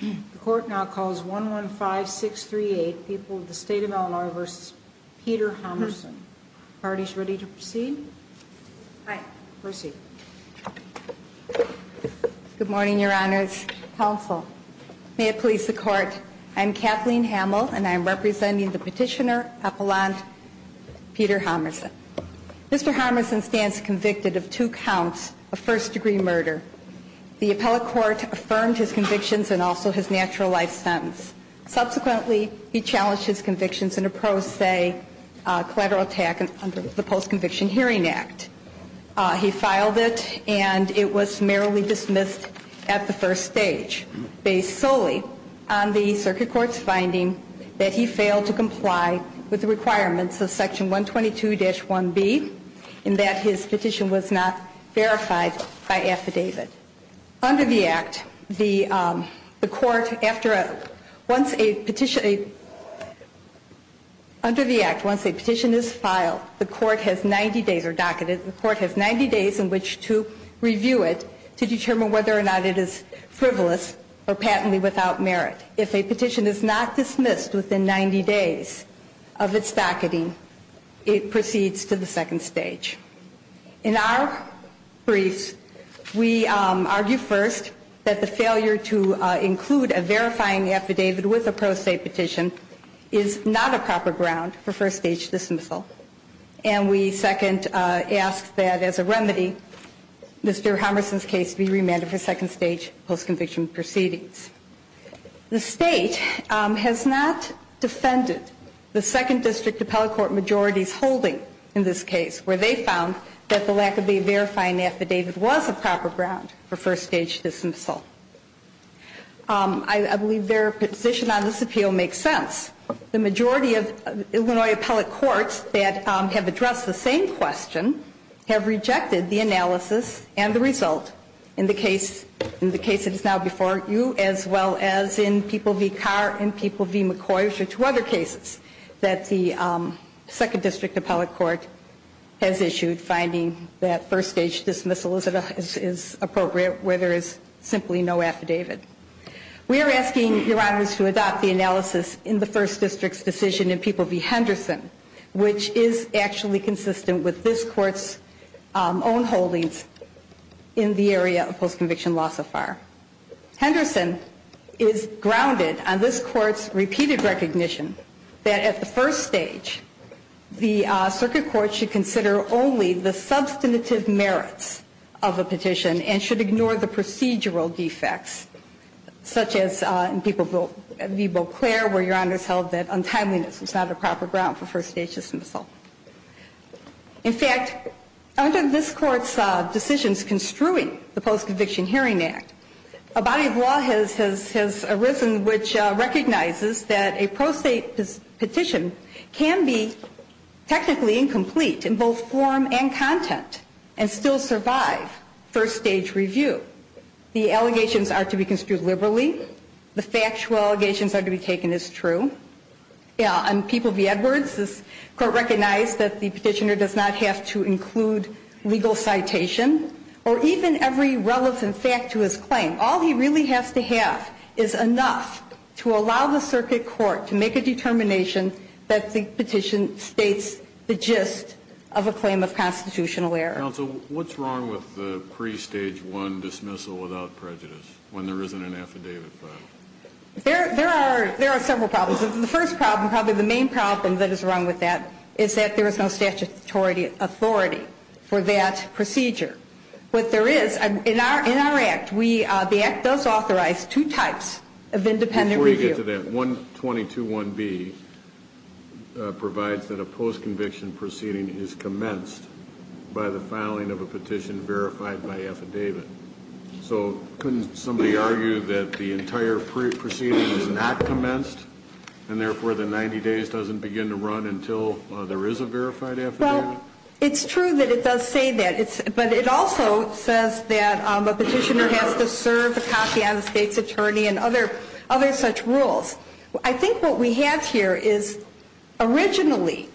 The court now calls 1-1-5-6-3-8, People of the State of Illinois v. Peter Hommerson. Parties ready to proceed? Aye. Proceed. Good morning, Your Honors. Counsel, may it please the Court. I'm Kathleen Hamill, and I'm representing the petitioner, Appellant Peter Hommerson. Mr. Hommerson stands convicted of two counts of first-degree murder. The appellate court affirmed his convictions and also his natural life sentence. Subsequently, he challenged his convictions and opposed, say, collateral attack under the Post-Conviction Hearing Act. He filed it, and it was merrily dismissed at the first stage, based solely on the circuit court's finding that he failed to comply with the requirements of Section 122-1B in that his petition was not verified by affidavit. Under the Act, the Court, after a – once a petition – under the Act, once a petition is filed, the Court has 90 days – or docketed – the Court has 90 days in which to review it to determine whether or not it is frivolous or patently without merit. If a petition is not dismissed within 90 days of its docketing, it proceeds to the second stage. In our briefs, we argue first that the failure to include a verifying affidavit with a pro se petition is not a proper ground for first-stage dismissal. And we second ask that, as a remedy, Mr. Hommerson's case be remanded for second-stage post-conviction proceedings. The State has not defended the second district appellate court majority's holding in this case, where they found that the lack of a verifying affidavit was a proper ground for first-stage dismissal. I believe their position on this appeal makes sense. The majority of Illinois appellate courts that have addressed the same question have rejected the analysis and the result in the case that is now before you, as well as in People v. Carr and People v. McCoy, which are two other cases that the second district appellate court has issued, finding that first-stage dismissal is appropriate where there is simply no affidavit. We are asking Your Honors to adopt the analysis in the first district's decision in People v. Henderson, which is actually consistent with this Court's own holdings in the area of post-conviction law so far. Henderson is grounded on this Court's repeated recognition that, at the first stage, the circuit court should consider only the substantive merits of a petition and should ignore the procedural defects, such as in People v. Beauclair, where Your Honors held that untimeliness was not a proper ground for first-stage dismissal. In fact, under this Court's decisions construing the Post-Conviction Hearing Act, a body of law has arisen which recognizes that a pro se petition can be technically incomplete in both form and content and still survive first-stage review. The allegations are to be construed liberally. The factual allegations are to be taken as true. In People v. Edwards, this Court recognized that the petitioner does not have to include legal citation or even every relevant fact to his claim. All he really has to have is enough to allow the circuit court to make a determination that the petition states the gist of a claim of constitutional error. Counsel, what's wrong with the pre-stage 1 dismissal without prejudice, when there isn't an affidavit filed? There are several problems. The first problem, probably the main problem that is wrong with that, is that there is no statutory authority for that procedure. What there is, in our Act, the Act does authorize two types of independent review. In addition to that, 122.1b provides that a post-conviction proceeding is commenced by the filing of a petition verified by affidavit. So couldn't somebody argue that the entire proceeding is not commenced and therefore the 90 days doesn't begin to run until there is a verified affidavit? Well, it's true that it does say that, but it also says that a petitioner has to serve a copy on the state's attorney and other such rules. I think what we have here is originally,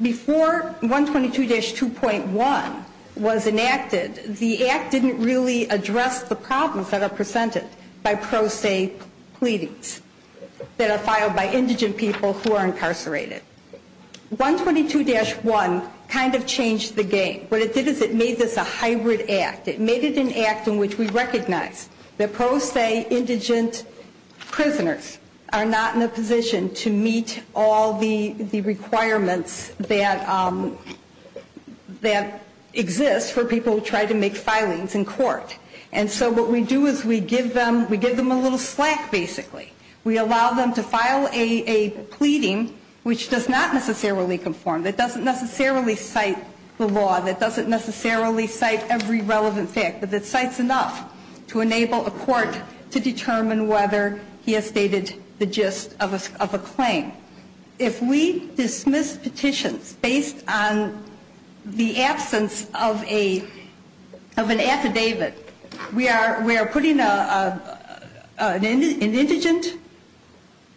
before 122-2.1 was enacted, the Act didn't really address the problems that are presented by pro se pleadings that are filed by indigent people who are incarcerated. 122-1 kind of changed the game. What it did is it made this a hybrid Act. It made it an Act in which we recognize that pro se indigent prisoners are not in a position to meet all the requirements that exist for people who try to make filings in court. And so what we do is we give them a little slack, basically. We allow them to file a pleading which does not necessarily conform, that doesn't necessarily cite the law, that doesn't necessarily cite every relevant fact, but that cites enough to enable a court to determine whether he has stated the gist of a claim. If we dismiss petitions based on the absence of an affidavit, we are putting an indigent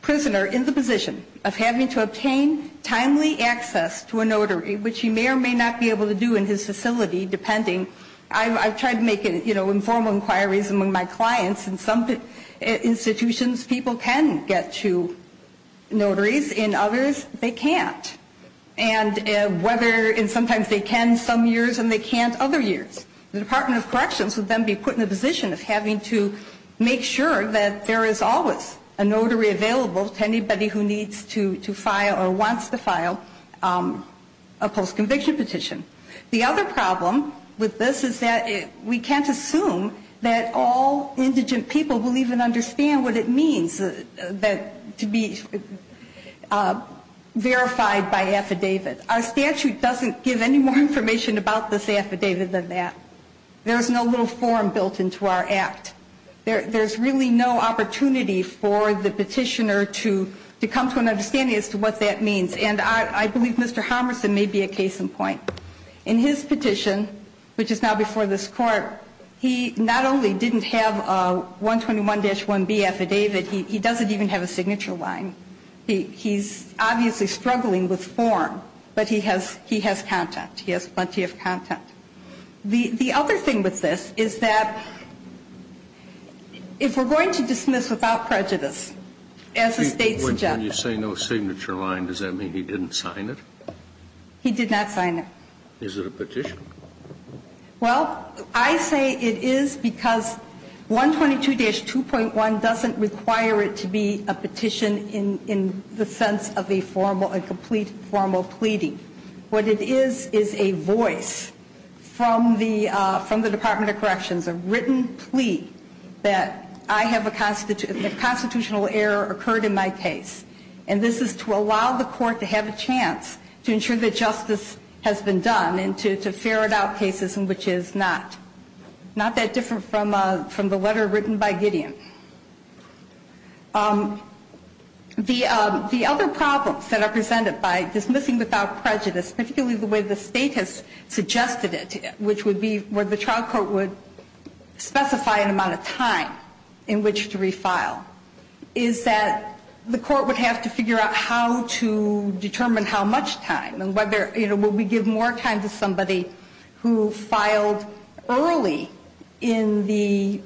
prisoner in the position of having to obtain timely access to a notary, which he may or may not be able to do in his facility, depending. I've tried to make informal inquiries among my clients. In some institutions, people can get to notaries. In others, they can't. And sometimes they can some years and they can't other years. The Department of Corrections would then be put in the position of having to make sure that there is always a notary available to anybody who needs to file or wants to file a post-conviction petition. The other problem with this is that we can't assume that all indigent people will even understand what it means to be verified by affidavit. Our statute doesn't give any more information about this affidavit than that. There's no little form built into our act. There's really no opportunity for the petitioner to come to an understanding as to what that means. And I believe Mr. Harmerson may be a case in point. In his petition, which is now before this Court, he not only didn't have a 121-1B affidavit, he doesn't even have a signature line. He's obviously struggling with form, but he has content. He has plenty of content. The other thing with this is that if we're going to dismiss without prejudice, as the State suggests... When you say no signature line, does that mean he didn't sign it? He did not sign it. Is it a petition? Well, I say it is because 122-2.1 doesn't require it to be a petition in the sense of a complete formal pleading. What it is is a voice from the Department of Corrections, a written plea that a constitutional error occurred in my case. And this is to allow the Court to have a chance to ensure that justice has been done and to ferret out cases in which it is not. Not that different from the letter written by Gideon. The other problems that are presented by dismissing without prejudice, particularly the way the State has suggested it, which would be where the trial court would specify an amount of time in which to refile, is that the court would have to figure out how to determine how much time and whether, you know, would we give more time to somebody who filed early in the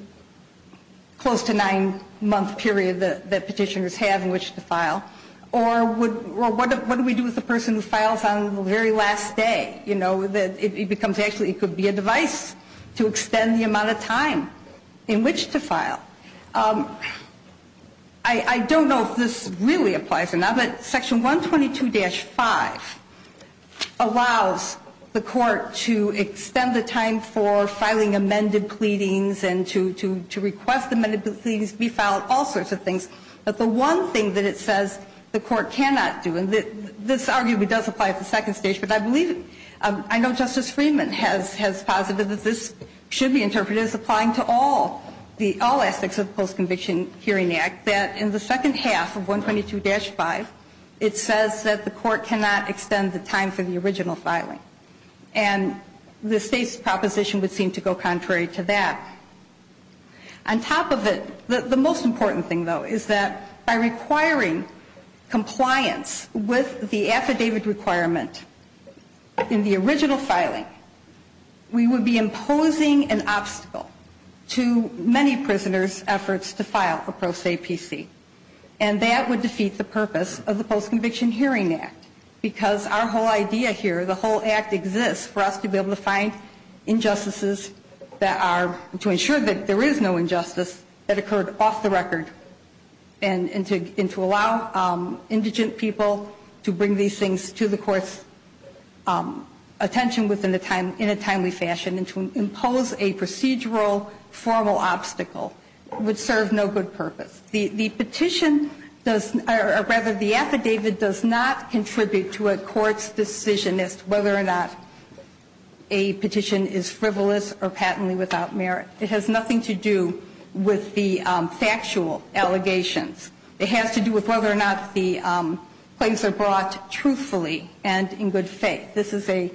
close-to-nine-month period that petitioners have in which to file, or what do we do with the person who files on the very last day? You know, it becomes actually it could be a device to extend the amount of time in which to file. I don't know if this really applies or not, but Section 122-5 allows the Court to extend the time for filing amended pleadings and to request amended pleadings be filed, all sorts of things. But the one thing that it says the Court cannot do, and this arguably does apply at the second stage, but I believe it. I know Justice Freeman has posited that this should be interpreted as applying to all aspects of the Post-Conviction Hearing Act, that in the second half of 122-5, it says that the Court cannot extend the time for the original filing. And the State's proposition would seem to go contrary to that. On top of it, the most important thing, though, is that by requiring compliance with the affidavit requirement in the original filing, we would be imposing an obstacle to many prisoners' efforts to file a pro se APC. And that would defeat the purpose of the Post-Conviction Hearing Act, because our whole idea here, the whole act exists for us to be able to find injustices that are to ensure that there is no injustice that occurred off the record and to allow indigent people to bring these things to the Court's attention in a timely fashion and to impose a procedural, formal obstacle. It would serve no good purpose. The petition does, or rather, the affidavit does not contribute to a Court's decision as to whether or not a petition is frivolous or patently without merit. It has nothing to do with the factual allegations. It has to do with whether or not the claims are brought truthfully and in good faith. This is a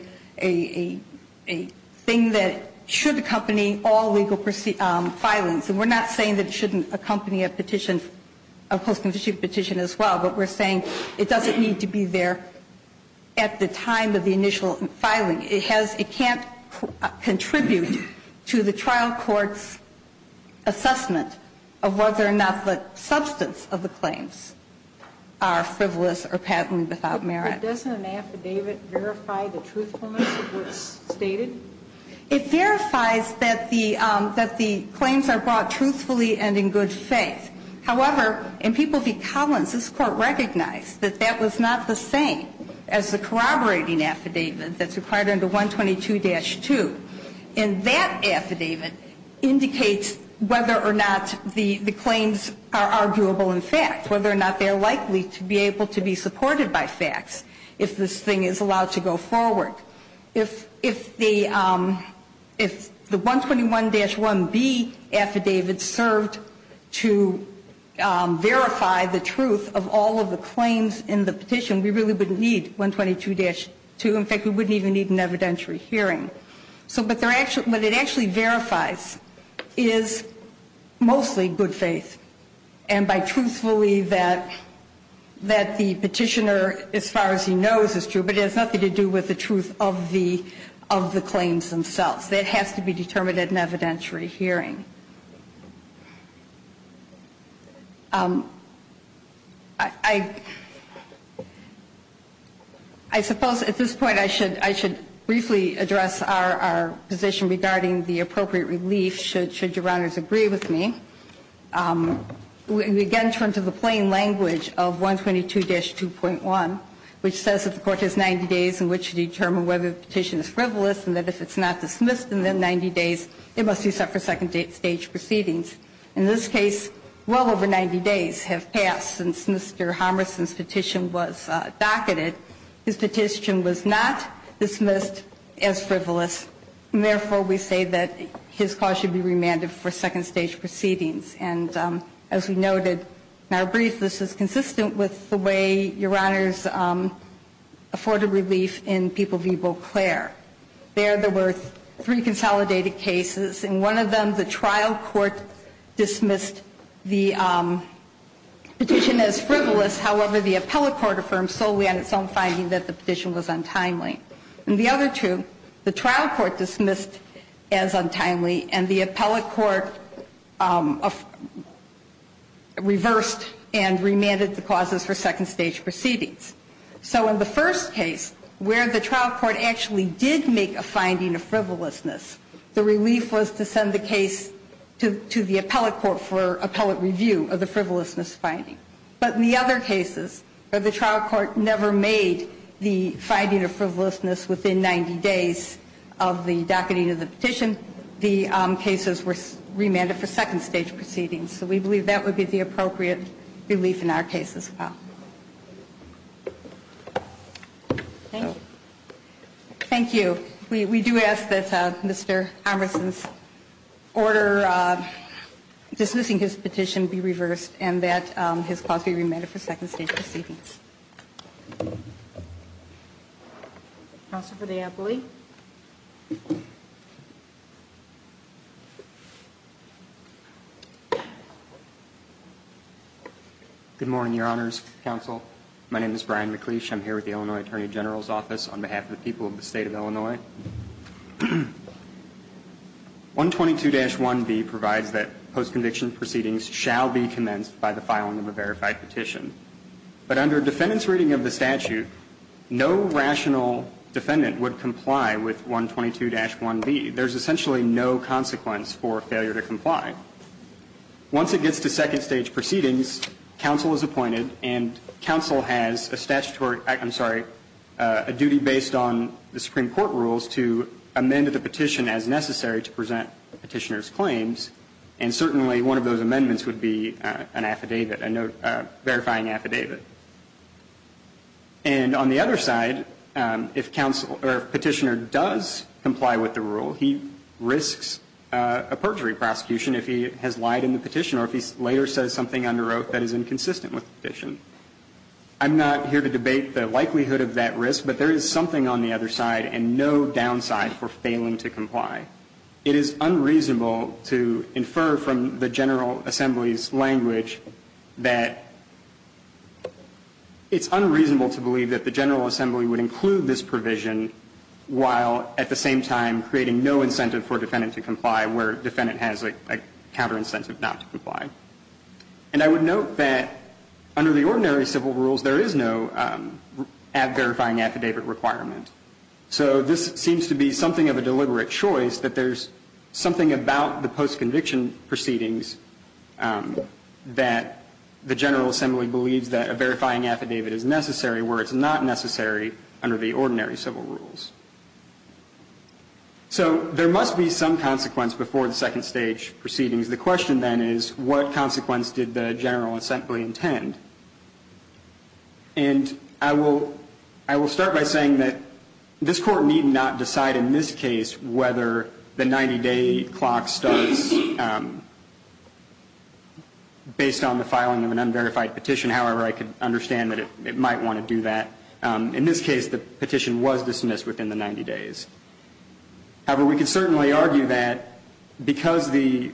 thing that should accompany all legal filings. And we're not saying that it shouldn't accompany a petition, a post-conviction petition as well, but we're saying it doesn't need to be there at the time of the initial filing. It has, it can't contribute to the trial court's assessment of whether or not the substance of the claims are frivolous or patently without merit. But doesn't an affidavit verify the truthfulness of what's stated? It verifies that the claims are brought truthfully and in good faith. However, in People v. Collins, this Court recognized that that was not the same as the corroborating affidavit that's required under 122-2. And that affidavit indicates whether or not the claims are arguable in fact, whether or not they're likely to be able to be supported by facts if this thing is allowed to go forward. If the 121-1B affidavit served to verify the truth of all of the claims in the petition, we really wouldn't need 122-2. In fact, we wouldn't even need an evidentiary hearing. So what it actually verifies is mostly good faith. And by truthfully that the petitioner, as far as he knows, is true. But it has nothing to do with the truth of the claims themselves. That has to be determined at an evidentiary hearing. I suppose at this point I should briefly address our position regarding the appropriate relief, should Your Honors agree with me. We again turn to the plain language of 122-2.1, which says that the Court has 90 days in which to determine whether the petition is frivolous and that if it's not dismissed in the 90 days, it must be set for second date statement. In this case, well over 90 days have passed since Mr. Homerson's petition was docketed. His petition was not dismissed as frivolous. And therefore, we say that his cause should be remanded for second stage proceedings. And as we noted in our brief, this is consistent with the way Your Honors afforded relief in People v. Beauclair. There, there were three consolidated cases. In one of them, the trial court dismissed the petition as frivolous. However, the appellate court affirmed solely on its own finding that the petition was untimely. In the other two, the trial court dismissed as untimely and the appellate court reversed and remanded the causes for second stage proceedings. So in the first case, where the trial court actually did make a finding of frivolousness, the relief was to send the case to the appellate court for appellate review of the frivolousness finding. But in the other cases where the trial court never made the finding of frivolousness within 90 days of the docketing of the petition, the cases were remanded for second stage proceedings. So we believe that would be the appropriate relief in our case as well. Thank you. We do ask that Mr. Emerson's order dismissing his petition be reversed and that his cause be remanded for second stage proceedings. Counsel for the appellate. Mr. McLeish. Good morning, Your Honors, Counsel. My name is Brian McLeish. I'm here with the Illinois Attorney General's Office on behalf of the people of the State of Illinois. 122-1B provides that post-conviction proceedings shall be commenced by the filing of a verified petition. But under defendant's reading of the statute, no rational defendant would comply with 122-1B. There's essentially no consequence for failure to comply. Once it gets to second stage proceedings, counsel is appointed and counsel has a statutory act, I'm sorry, a duty based on the Supreme Court rules to amend the petition as necessary to present the petitioner's claims. And certainly one of those amendments would be an affidavit, a verifying affidavit. And on the other side, if counsel or petitioner does comply with the rule, he risks a perjury prosecution if he has lied in the petition or if he later says something under oath that is inconsistent with the petition. I'm not here to debate the likelihood of that risk, but there is something on the other side and no downside for failing to comply. It is unreasonable to infer from the General Assembly's language that it's unreasonable to believe that the General Assembly would include this provision while at the same time creating no incentive for a defendant to comply where a defendant has a counter incentive not to comply. And I would note that under the ordinary civil rules, there is no verifying affidavit requirement. So this seems to be something of a deliberate choice that there's something about the post-conviction proceedings that the General Assembly believes that a verifying affidavit is necessary where it's not necessary under the ordinary civil rules. So there must be some consequence before the second stage proceedings. The question then is what consequence did the General Assembly intend? And I will start by saying that this Court need not decide in this case whether the 90-day clock starts based on the filing of an unverified petition. However, I could understand that it might want to do that. In this case, the petition was dismissed within the 90 days. However, we could certainly argue that because the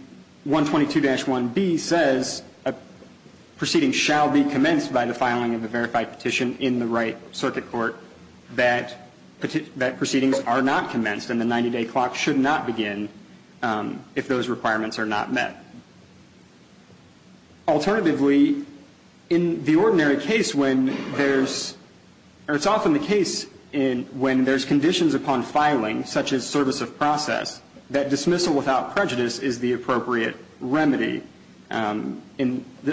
122-1B says a proceeding shall be commenced by the filing of a verified petition in the right circuit court that proceedings are not commenced and the 90-day clock should not begin if those requirements are not met. Alternatively, in the ordinary case when there's or it's often the case when there's conditions upon filing, such as service of process, that dismissal without prejudice is the appropriate remedy. And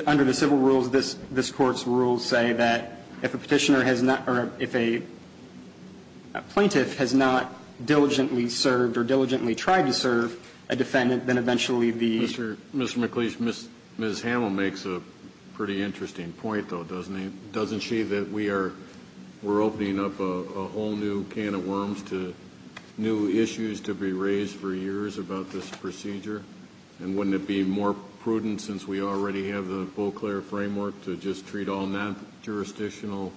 under the civil rules, this Court's rules say that if a petitioner has not or if a plaintiff has not diligently served or diligently tried to serve a defendant, then eventually the... Mr. McLeish, Ms. Hamel makes a pretty interesting point, though, doesn't she, that we are opening up a whole new can of worms to new issues to be raised for years about this procedure? And wouldn't it be more prudent, since we already have the full, clear framework, to just treat all non-jurisdictional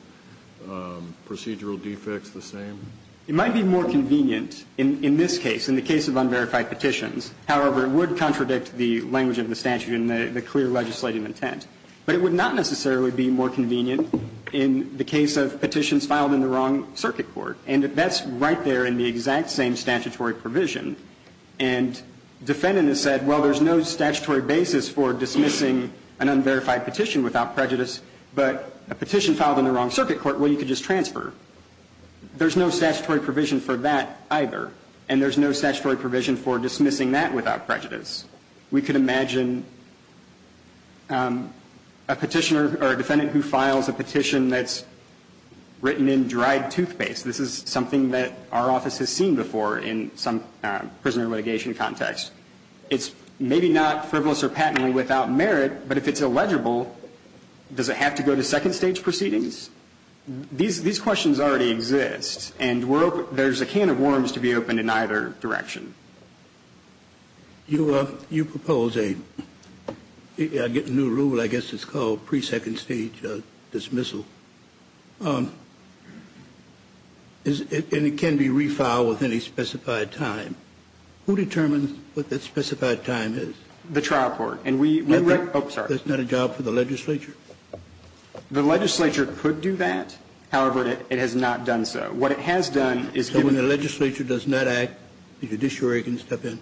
procedural defects the same? It might be more convenient in this case, in the case of unverified petitions. However, it would contradict the language of the statute and the clear legislative intent. But it would not necessarily be more convenient in the case of petitions filed in the wrong circuit court. And that's right there in the exact same statutory provision. And defendant has said, well, there's no statutory basis for dismissing an unverified petition without prejudice, but a petition filed in the wrong circuit court, well, you could just transfer. There's no statutory provision for that either, and there's no statutory provision for dismissing that without prejudice. We could imagine a petitioner or a defendant who files a petition that's written in dried toothpaste. And we could imagine a petitioner or a defendant who files a petition that's written in dried toothpaste. This is something that our office has seen before in some prisoner litigation context. It's maybe not frivolous or patently without merit, but if it's illegible, does it have to go to second stage proceedings? These questions already exist, and there's a can of worms to be opened in either direction. You propose a new rule, I guess it's called pre-second stage dismissal. And it can be refiled within a specified time. Who determines what that specified time is? The trial court. And we write up. Isn't that a job for the legislature? The legislature could do that. However, it has not done so. What it has done is given. If the legislature does not act, the judiciary can step in.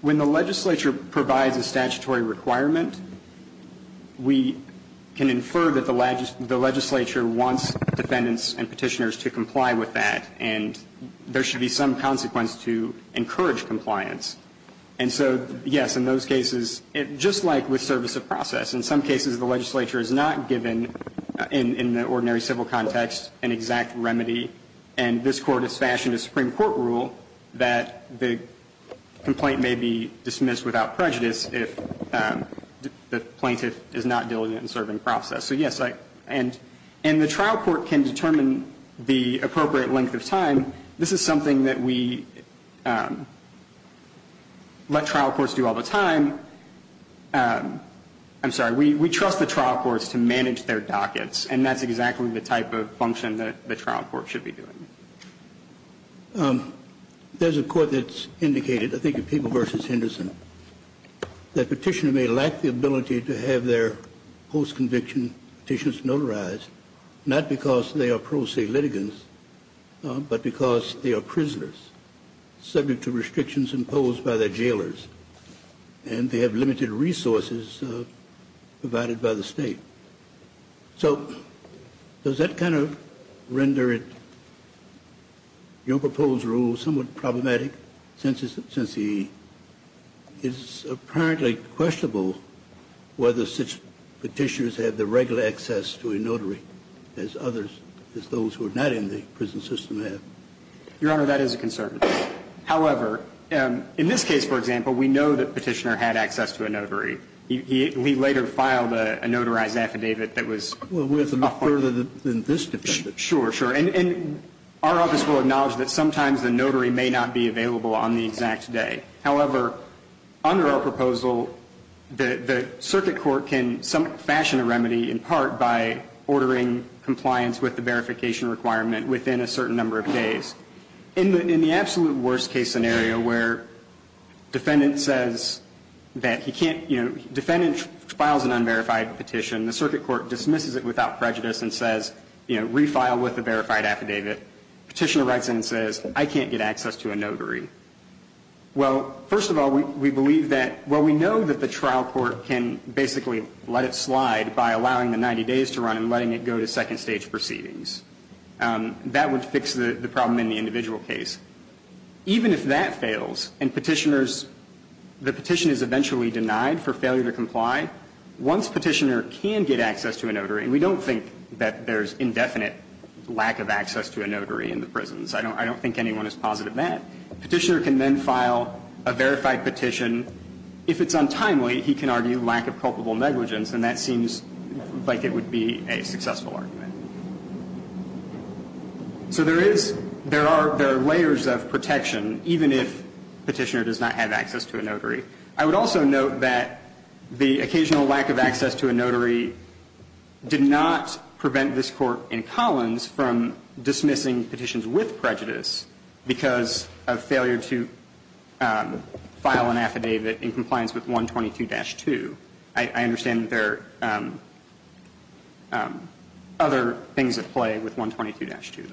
When the legislature provides a statutory requirement, we can infer that the legislature wants defendants and petitioners to comply with that. And there should be some consequence to encourage compliance. And so, yes, in those cases, just like with service of process, in some cases the legislature is not given in the ordinary civil context an exact remedy. And this Court has fashioned a Supreme Court rule that the complaint may be dismissed without prejudice if the plaintiff is not diligent in serving process. So, yes, and the trial court can determine the appropriate length of time. This is something that we let trial courts do all the time. I'm sorry. We trust the trial courts to manage their dockets. And that's exactly the type of function that the trial court should be doing. There's a court that's indicated, I think it's People v. Henderson, that petitioners may lack the ability to have their post-conviction petitions notarized, not because they are pro se litigants, but because they are prisoners subject to restrictions imposed by their jailers. And they have limited resources provided by the State. So does that kind of render it, your proposed rule, somewhat problematic since it's apparently questionable whether such petitioners have the regular access to a notary as others, as those who are not in the prison system have? Your Honor, that is a concern. However, in this case, for example, we know that Petitioner had access to a notary. He later filed a notarized affidavit that was a part of it. Well, we have to move further than this defendant. Sure, sure. And our office will acknowledge that sometimes the notary may not be available on the exact day. However, under our proposal, the circuit court can fashion a remedy in part by ordering compliance with the verification requirement within a certain number of days. In the absolute worst case scenario where defendant says that he can't, you know, defendant files an unverified petition, the circuit court dismisses it without prejudice and says, you know, refile with a verified affidavit. Petitioner writes in and says, I can't get access to a notary. Well, first of all, we believe that, well, we know that the trial court can basically let it slide by allowing the 90 days to run and letting it go to second stage proceedings. That would fix the problem in the individual case. Even if that fails and Petitioner's, the petition is eventually denied for failure to comply, once Petitioner can get access to a notary, we don't think that there's indefinite lack of access to a notary in the prisons. I don't think anyone is positive of that. Petitioner can then file a verified petition. If it's untimely, he can argue lack of culpable negligence, and that seems like it would be a successful argument. So there is, there are layers of protection, even if Petitioner does not have access to a notary. I would also note that the occasional lack of access to a notary did not prevent this Court in Collins from dismissing petitions with prejudice because of failure to file an affidavit in compliance with 122-2. I understand that there are other things at play with 122-2.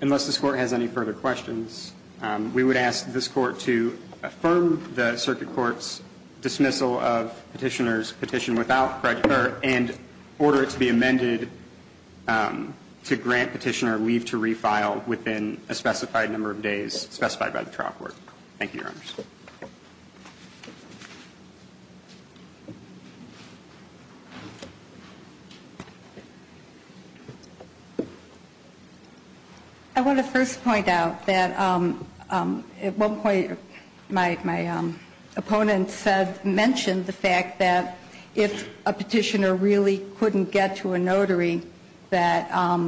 Unless this Court has any further questions, we would ask this Court to affirm the Circuit Court's dismissal of Petitioner's petition without prejudice and order it to be amended to grant Petitioner leave to refile within a specified number of days specified by the trial court. Thank you, Your Honors. I want to first point out that at one point my opponent mentioned the fact that if a defendant is not able to file a petition to a notary, that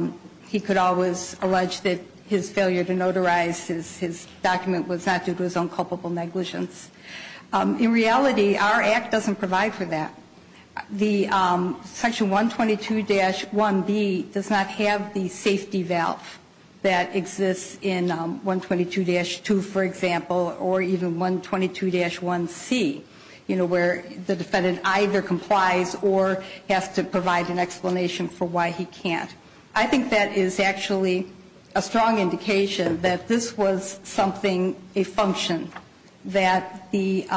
he could always allege that his failure to notarize his document was not due to his own culpable negligence. In reality, our Act doesn't provide for that. Section 122-1B does not have the safety valve that exists in 122-2, for example, or even 122-1C, you know, where the defendant either complies or has to provide an explanation for why he can't. I think that is actually a strong indication that this was something, a function, that the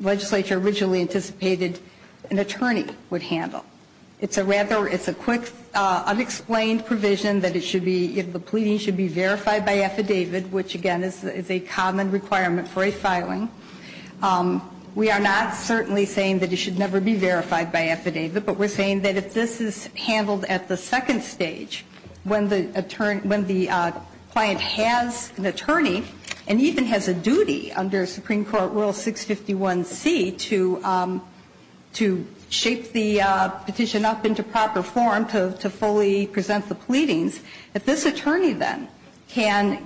legislature originally anticipated an attorney would handle. It's a rather, it's a quick, unexplained provision that it should be, the pleading should be verified by affidavit, which, again, is a common requirement for a filing. We are not certainly saying that it should never be verified by affidavit, but we're saying that if this is handled at the second stage, when the client has an attorney and even has a duty under Supreme Court Rule 651C to shape the petition up into proper form to fully present the pleadings, that this attorney then can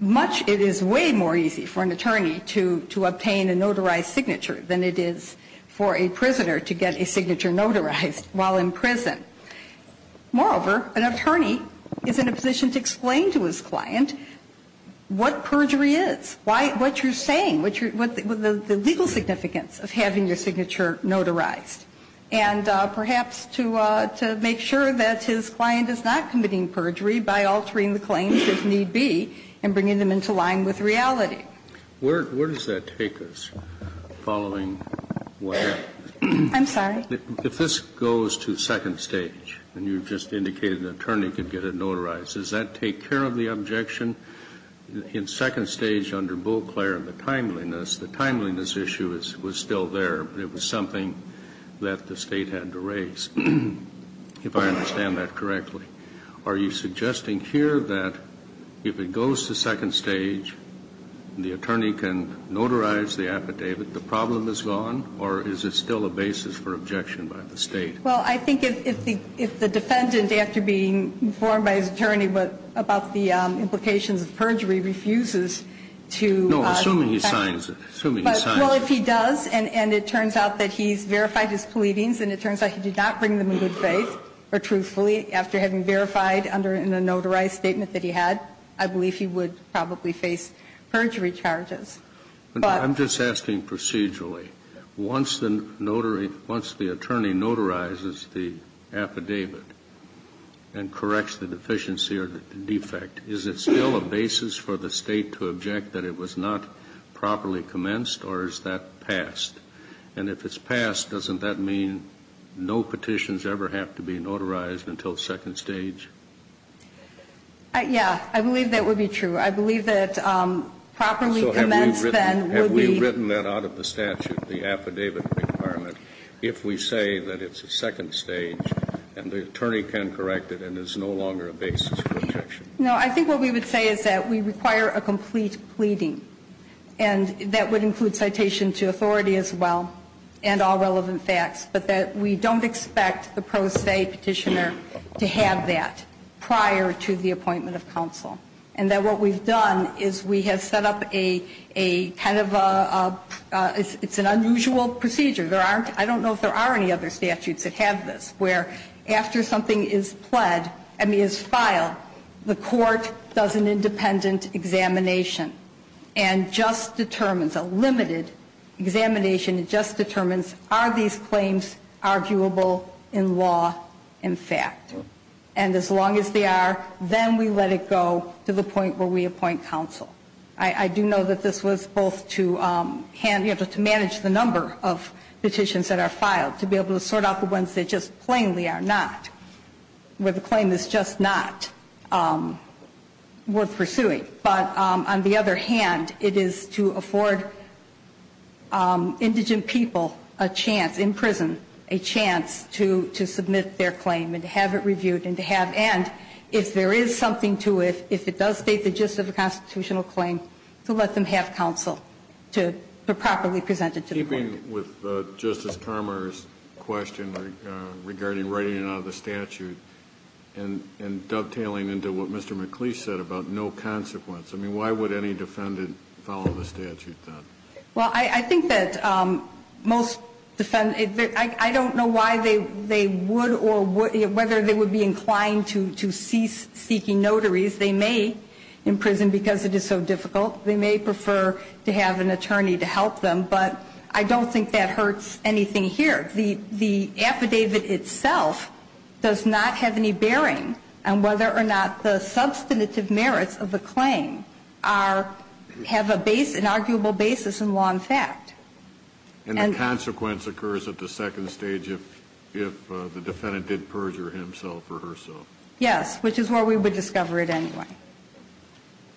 much, it is way more easy for an attorney to obtain a notarized signature than it is for a prisoner to get a signature notarized while in prison. Moreover, an attorney is in a position to explain to his client what perjury is, what you're saying, the legal significance of having your signature notarized. And perhaps to make sure that his client is not committing perjury by altering the claims, if need be, and bringing them into line with reality. Where does that take us following what happened? I'm sorry? If this goes to second stage, and you've just indicated an attorney could get it notarized, does that take care of the objection in second stage under Beauclair and the timeliness? The timeliness issue was still there. It was something that the State had to raise, if I understand that correctly. Are you suggesting here that if it goes to second stage, the attorney can notarize the affidavit, the problem is gone, or is it still a basis for objection by the State? Well, I think if the defendant, after being informed by his attorney about the implications of perjury, refuses to affect it. Assuming he signs it. Well, if he does and it turns out that he's verified his pleadings and it turns out he did not bring them in good faith or truthfully after having verified under a notarized statement that he had, I believe he would probably face perjury charges. But. I'm just asking procedurally. Once the notary, once the attorney notarizes the affidavit and corrects the deficiency or the defect, is it still a basis for the State to object that it was not properly commenced or is that passed? And if it's passed, doesn't that mean no petitions ever have to be notarized until second stage? Yeah. I believe that would be true. I believe that properly commenced then would be. So have we written that out of the statute, the affidavit requirement, if we say that it's a second stage and the attorney can correct it and it's no longer a basis for objection? No. I think what we would say is that we require a complete pleading and that would include citation to authority as well and all relevant facts, but that we don't expect the pro se Petitioner to have that prior to the appointment of counsel and that what we've done is we have set up a kind of a, it's an unusual procedure. There aren't, I don't know if there are any other statutes that have this where after something is pled, I mean is filed, the court does an independent examination and just determines, a limited examination, it just determines are these claims arguable in law, in fact. And as long as they are, then we let it go to the point where we appoint counsel. I do know that this was both to manage the number of petitions that are filed, to be able to sort out the ones that just plainly are not, where the claim is just not worth pursuing, but on the other hand, it is to afford indigent people a chance in prison, a chance to submit their claim and to have it reviewed and to have and if there is something to it, if it does state the gist of a constitutional claim, to let them have counsel to properly present it to the court. Keeping with Justice Carmer's question regarding writing it out of the statute and dovetailing into what Mr. McLeish said about no consequence, I mean, why would any defendant follow the statute then? Well, I think that most defendants, I don't know why they would or whether they would be inclined to cease seeking notaries. They may in prison because it is so difficult. They may prefer to have an attorney to help them. But I don't think that hurts anything here. The affidavit itself does not have any bearing on whether or not the substantive merits of the claim are, have a base, an arguable basis in law and fact. And the consequence occurs at the second stage if the defendant did perjure himself or herself. Yes, which is where we would discover it anyway.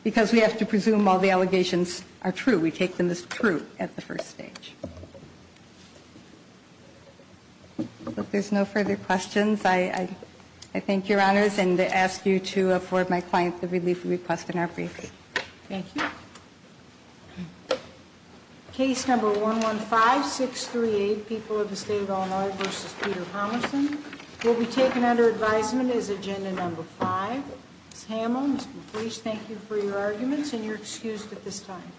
Because we have to presume all the allegations are true. We take them as true at the first stage. If there's no further questions, I thank Your Honors and ask you to afford my client the relief request in our briefing. Thank you. Case number 115-638, People of the State of Illinois v. Peter Tomlinson will be taken under advisement as agenda number five. Ms. Hamel, Mr. Fleish, thank you for your arguments and you're excused at this time.